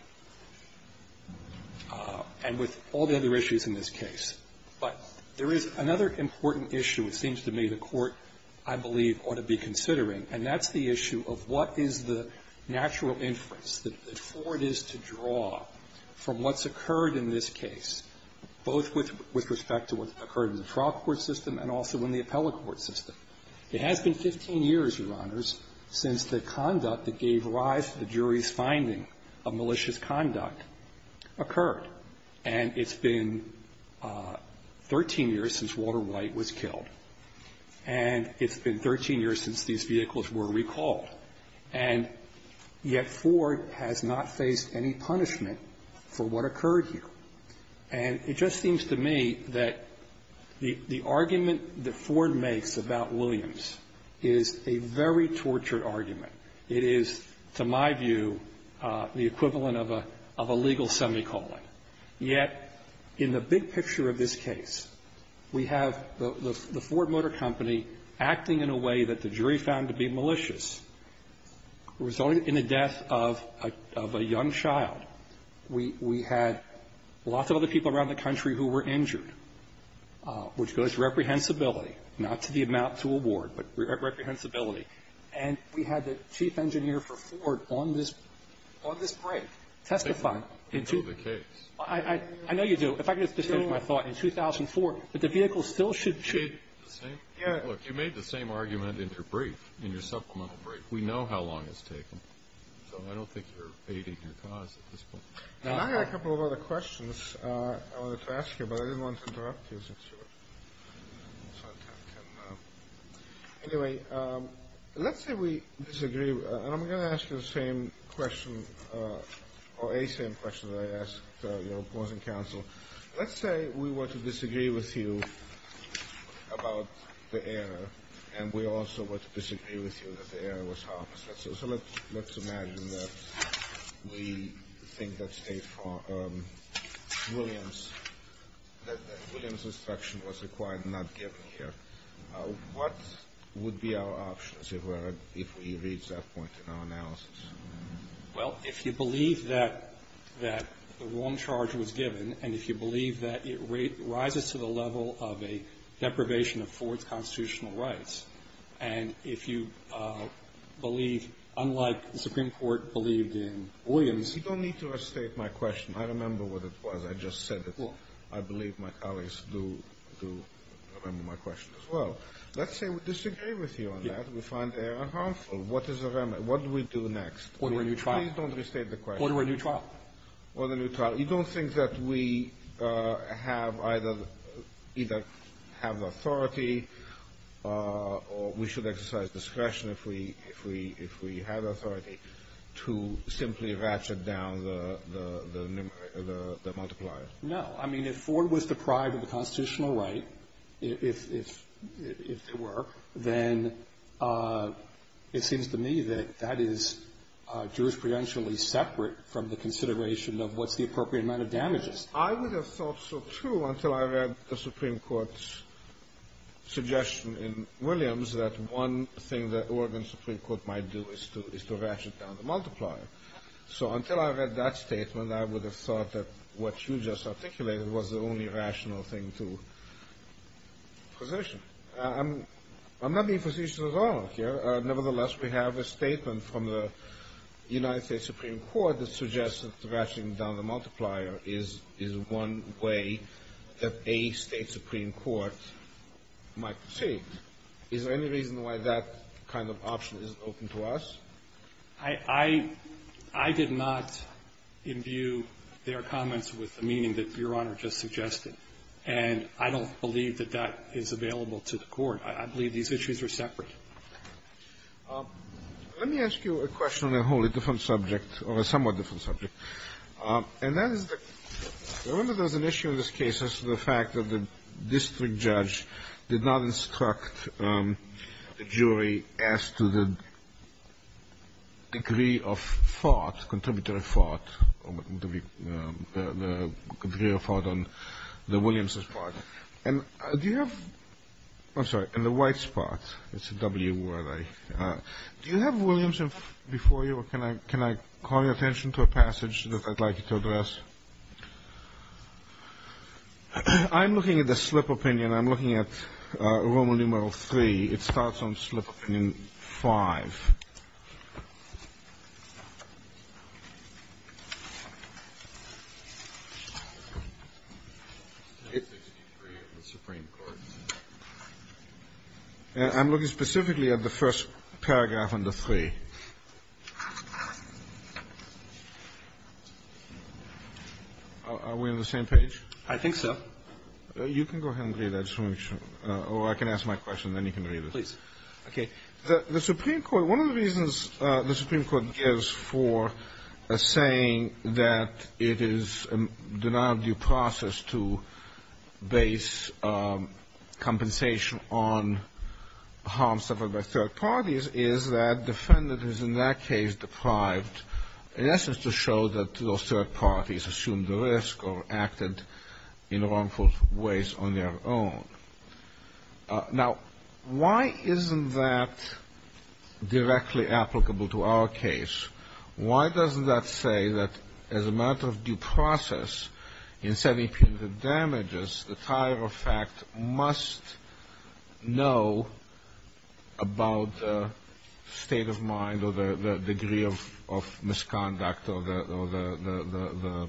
and with all the other issues in this case. But there is another important issue, it seems to me, the Court, I believe, ought to be considering, and that's the issue of what is the natural inference that Ford is to draw from what's occurred in this case, both with respect to what occurred in the trial court system and also in the appellate court system. It has been 15 years, Your Honors, since the conduct that gave rise to the jury's finding of malicious conduct occurred. And it's been 13 years since Walter White was killed. And it's been 13 years since these vehicles were recalled. And yet Ford has not faced any punishment for what occurred here. And it just seems to me that the argument that Ford makes about Williams is a very tortured argument. It is, to my view, the equivalent of a legal semicolon. Yet in the big picture of this case, we have the Ford Motor Company acting in a way that the jury found to be malicious, resulting in the death of a young child. We had lots of other people around the country who were injured, which goes to reprehensibility, not to the amount to award, but reprehensibility. And we had the chief engineer for Ford on this break testifying. I know you do. If I could just finish my thought. In 2004, the vehicle still should be. You made the same argument in your brief, in your supplemental brief. We know how long it's taken. So I don't think you're aiding your cause at this point. I have a couple of other questions I wanted to ask you, but I didn't want to interrupt you. Anyway, let's say we disagree. And I'm going to ask you the same question, or a same question that I asked your opposing counsel. Let's say we were to disagree with you about the error, and we also were to disagree with you that the error was harmless. So let's imagine that we think that Williams instruction was required and not given here. What would be our options if we reached that point in our analysis? Well, if you believe that the wrong charge was given, and if you believe that it rises to the level of a deprivation of Ford's constitutional rights, and if you believe, unlike the Supreme Court believed in Williams. You don't need to restate my question. I remember what it was. I just said it. I believe my colleagues do remember my question as well. Let's say we disagree with you on that. We find the error harmful. What is the remedy? What do we do next? Order a new trial. Please don't restate the question. Order a new trial. Order a new trial. You don't think that we have either authority or we should exercise discretion if we have authority to simply ratchet down the multiplier? No. I mean, if Ford was deprived of the constitutional right, if it were, then it seems to me that that is jurisprudentially separate from the consideration of what's the appropriate amount of damages. I would have thought so too until I read the Supreme Court's suggestion in Williams that one thing that Oregon Supreme Court might do is to ratchet down the multiplier. So until I read that statement, I would have thought that what you just articulated was the only rational thing to position. I'm not being facetious at all here. Nevertheless, we have a statement from the United States Supreme Court that suggests that ratcheting down the multiplier is one way that a State Supreme Court might proceed. Is there any reason why that kind of option isn't open to us? I did not imbue their comments with the meaning that Your Honor just suggested. And I don't believe that that is available to the Court. I believe these issues are separate. Let me ask you a question on a wholly different subject, or a somewhat different subject. And that is that I remember there was an issue in this case as to the fact that the district judge did not instruct the jury as to the degree of thought, contributory thought, the degree of thought on the Williams' part. And do you have... I'm sorry, in the white spot, it's a W word. Do you have Williams before you, or can I call your attention to a passage that I'd like you to address? I'm looking at the slip opinion. I'm looking at Roman numeral three. It starts on slip opinion five. I'm looking specifically at the first paragraph under three. Are we on the same page? I think so. You can go ahead and read that. Or I can ask my question, then you can read it. Please. Okay. The Supreme Court, one of the reasons the Supreme Court gives for saying that it is a denial of due process to base compensation on harm suffered by third parties is that defendants in that case deprived in essence to show that those third parties assumed the risk or acted in wrongful ways on their own. Now, why isn't that directly applicable to our case? Why doesn't that say that as a matter of due process in sending punitive damages, the fire effect must know about the state of mind or the degree of misconduct or the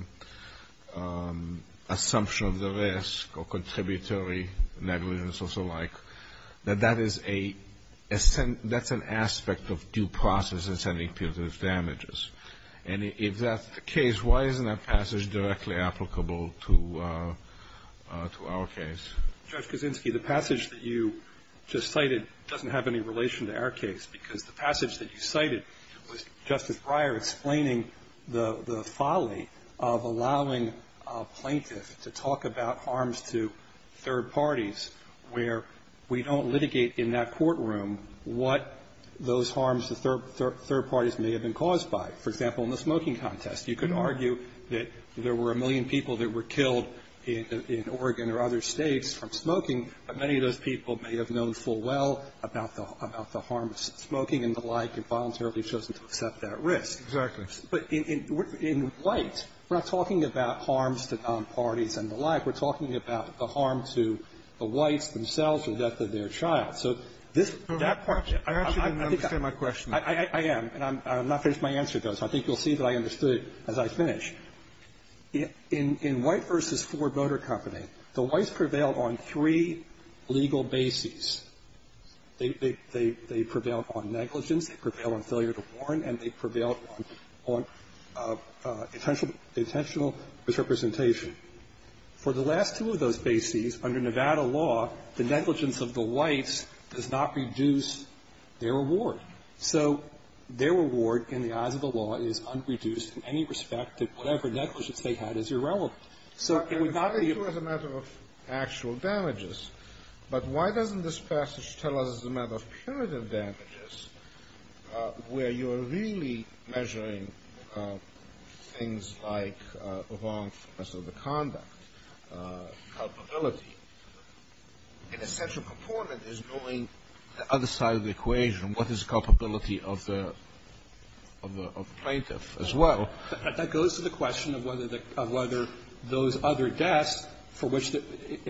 assumption of the risk or contributory negligence or so like, that that is an aspect of due process in sending punitive damages? And if that's the case, why isn't that passage directly applicable to our case? Judge Kaczynski, the passage that you just cited doesn't have any relation to our case, because the passage that you cited was Justice Breyer explaining the folly of allowing a plaintiff to talk about harms to third parties where we don't litigate in that courtroom what those harms to third parties may have been caused by. For example, in the smoking contest, you could argue that there were a million people that were killed in Oregon or other states from smoking, but many of those people may have known full well about the harm of smoking and the like and voluntarily I'm not finished with my answer, though, so I think you'll see that I understood it as I finish. In White v. Ford Motor Company, the Whites prevailed on three legal bases. They prevailed on negligence, they prevailed on failure to warn, and they prevailed on intentional misrepresentation. For the last two of those bases, under Nevada law, the negligence of the Whites does not reduce their reward. So their reward, in the eyes of the law, is unreduced in any respect to whatever negligence they had as irrelevant. So it would not be... I'm referring to it as a matter of actual damages, but why doesn't this passage tell us it's a matter of punitive damages, where you're really measuring things like wrongfulness of the conduct, culpability. And a central component is knowing the other side of the equation, what is the culpability of the plaintiff as well. But that goes to the question of whether those other deaths, for which there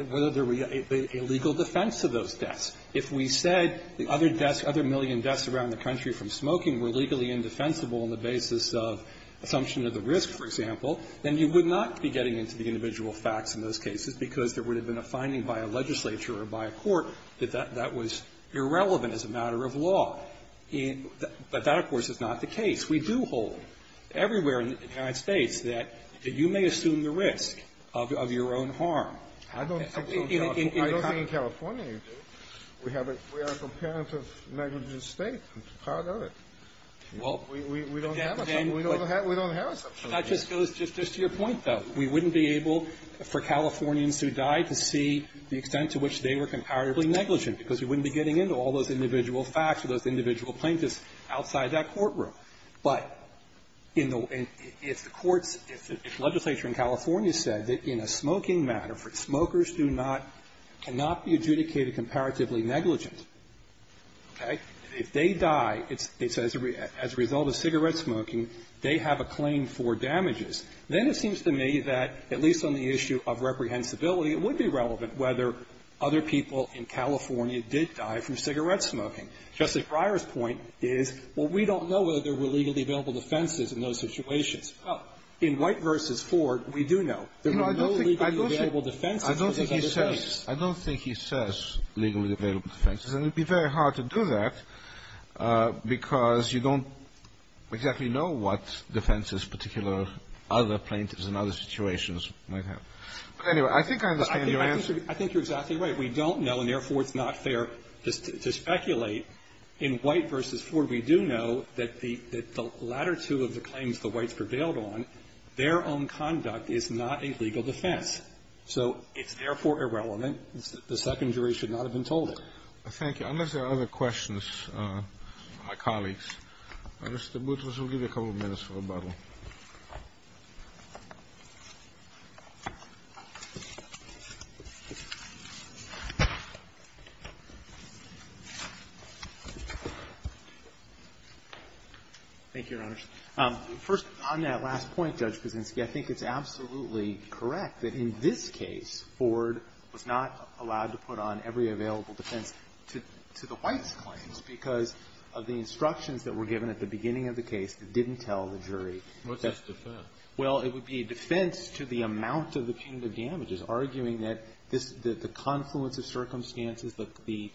would be a legal defense to those deaths. If we said the other deaths, other million deaths around the country from smoking were legally indefensible on the basis of assumption of the risk, for example, then you would not be getting into the individual facts in those cases because there would have been a finding by a legislature or by a court that that was irrelevant as a matter of law. But that, of course, is not the case. We do hold, everywhere in the United States, that you may assume the risk of your own harm. I don't think so. I don't think in California you do. We have a comparative negligence state. I'm proud of it. We don't have it. We don't have it. That just goes to your point, though. We wouldn't be able, for Californians who died, to see the extent to which they were comparatively negligent because we wouldn't be getting into all those individual facts or those individual plaintiffs outside that courtroom. But if the courts, if the legislature in California said that in a smoking matter, for smokers do not, cannot be adjudicated comparatively negligent, okay, if they die, it's as a result of cigarette smoking, they have a claim for damages, then it would be that, at least on the issue of reprehensibility, it would be relevant whether other people in California did die from cigarette smoking. Justice Breyer's point is, well, we don't know whether there were legally available defenses in those situations. Well, in White v. Ford, we do know. There were no legally available defenses in those other cases. I don't think he says legally available defenses. And it would be very hard to do that because you don't exactly know what defenses particular other plaintiffs in other situations might have. But anyway, I think I understand your answer. I think you're exactly right. We don't know, and therefore it's not fair to speculate. In White v. Ford, we do know that the latter two of the claims the Whites prevailed on, their own conduct is not a legal defense. So it's therefore irrelevant. The second jury should not have been told it. Thank you. Unless there are other questions from my colleagues. Mr. Boutrous, we'll give you a couple minutes for rebuttal. Thank you, Your Honors. First, on that last point, Judge Kuczynski, I think it's absolutely correct that in this case, Ford was not allowed to put on every available defense to the Whites' claims because of the instructions that were given at the beginning of the case that didn't tell the jury. What's its defense? Well, it would be a defense to the amount of the punitive damages, arguing that the confluence of circumstances, the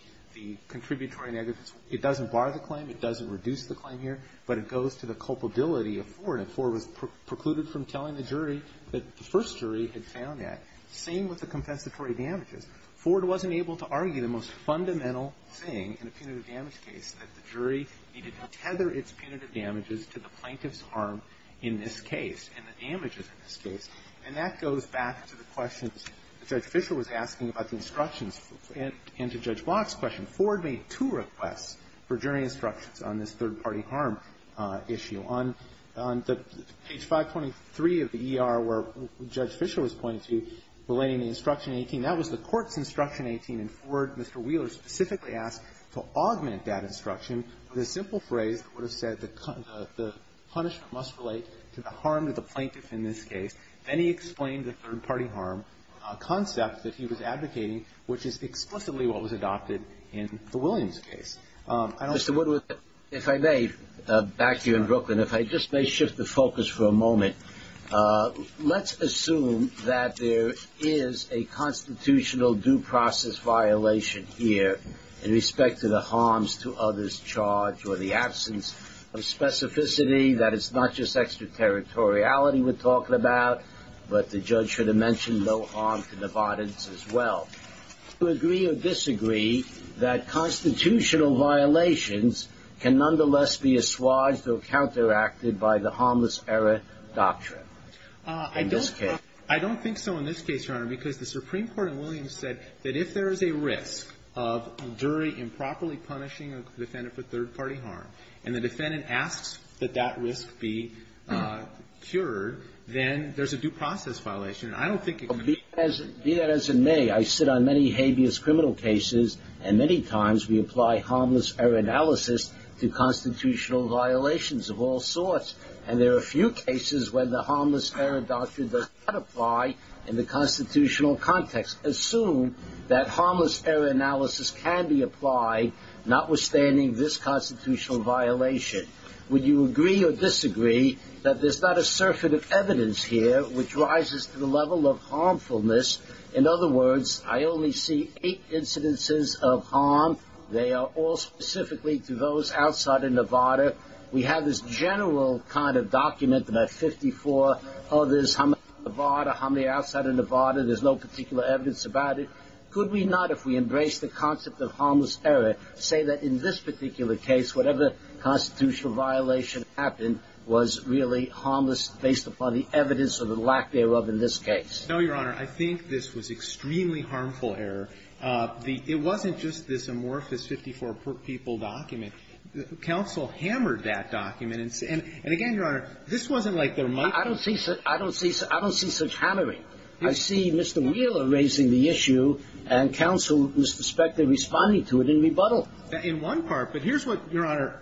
contributory negatives, it doesn't bar the claim, it doesn't reduce the claim here, but it goes to the culpability of Ford. And Ford was precluded from telling the jury that the first jury had found that. Same with the confessatory damages. Ford wasn't able to argue the most fundamental thing in a punitive damage case, that the jury needed to tether its punitive damages to the plaintiff's harm in this case and the damages in this case. And that goes back to the questions that Judge Fischer was asking about the instructions and to Judge Block's question. Ford made two requests for jury instructions on this third-party harm issue. On page 523 of the ER where Judge Fischer was pointing to, relating the instruction 18, that was the court's instruction 18. And Ford, Mr. Wheeler, specifically asked to augment that instruction with a simple phrase that would have said the punishment must relate to the harm to the plaintiff in this case. Then he explained the third-party harm concept that he was advocating, which is explicitly what was adopted in the Williams case. I don't see why it's not. Mr. Woodward, if I may, back here in Brooklyn, if I just may shift the focus for a minute, there is no constitutional due process violation here in respect to the harms to others charged or the absence of specificity, that it's not just extraterritoriality we're talking about, but the judge should have mentioned no harm to the pardons as well. Do you agree or disagree that constitutional violations can nonetheless be assuaged or counteracted by the harmless error doctrine in this case? I don't think so in this case, Your Honor, because the Supreme Court in Williams said that if there is a risk of jury improperly punishing a defendant for third-party harm, and the defendant asks that that risk be cured, then there's a due process violation. I don't think it could be. Well, be that as it may, I sit on many habeas criminal cases, and many times we apply harmless error analysis to constitutional violations of all sorts. And there are a few cases where the harmless error doctrine does not apply in the constitutional context. Assume that harmless error analysis can be applied, notwithstanding this constitutional violation. Would you agree or disagree that there's not a surfeit of evidence here which rises to the level of harmfulness? In other words, I only see eight incidences of harm. They are all specifically to those outside of Nevada. We have this general kind of document about 54 others. How many are in Nevada? How many are outside of Nevada? There's no particular evidence about it. Could we not, if we embrace the concept of harmless error, say that in this particular case, whatever constitutional violation happened was really harmless based upon the evidence or the lack thereof in this case? No, Your Honor. I think this was extremely harmful error. It wasn't just this amorphous 54-people document. Counsel hammered that document. And again, Your Honor, this wasn't like their might. I don't see such hammering. I see Mr. Wheeler raising the issue, and counsel was suspected of responding to it in rebuttal. In one part. But here's what, Your Honor,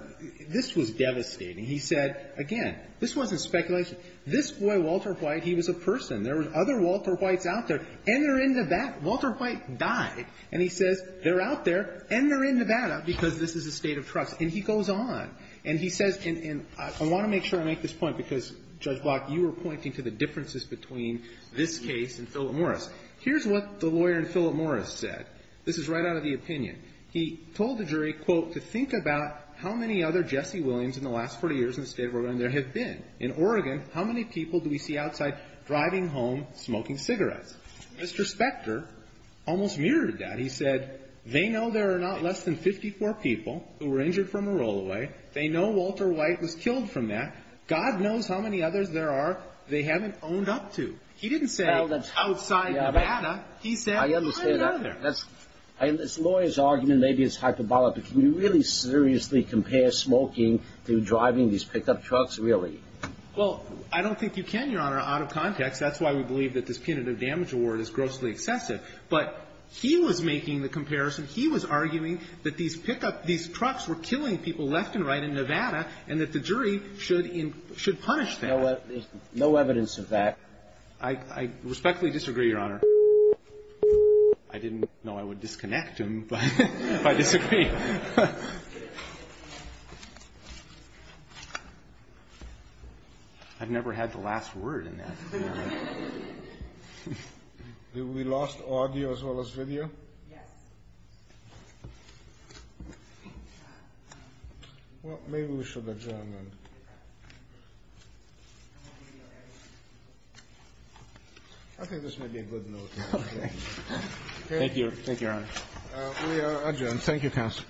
this was devastating. He said, again, this wasn't speculation. This boy, Walter White, he was a person. There were other Walter Whites out there. And they're in Nevada. Walter White died. And he says they're out there and they're in Nevada because this is a state of Oregon. And he goes on. And he says, and I want to make sure I make this point because, Judge Block, you were pointing to the differences between this case and Philip Morris. Here's what the lawyer in Philip Morris said. This is right out of the opinion. He told the jury, quote, to think about how many other Jesse Williams in the last 40 years in the state of Oregon there have been. In Oregon, how many people do we see outside driving home smoking cigarettes? Mr. Spector almost mirrored that. He said, they know there are not less than 54 people who were injured from a rollaway. They know Walter White was killed from that. God knows how many others there are they haven't owned up to. He didn't say outside Nevada. He said one or the other. I understand that. That's the lawyer's argument. Maybe it's hyperbolic. But can you really seriously compare smoking to driving these pickup trucks, really? Well, I don't think you can, Your Honor, out of context. That's why we believe that this punitive damage award is grossly excessive. But he was making the comparison. He was arguing that these pickup – these trucks were killing people left and right in Nevada, and that the jury should punish them. No evidence of that. I respectfully disagree, Your Honor. I didn't know I would disconnect him, but I disagree. I've never had the last word in that. Have we lost audio as well as video? Yes. Well, maybe we should adjourn then. I think this may be a good note. Okay. Thank you. Thank you, Your Honor. We are adjourned. Thank you, Counsel. Thank you.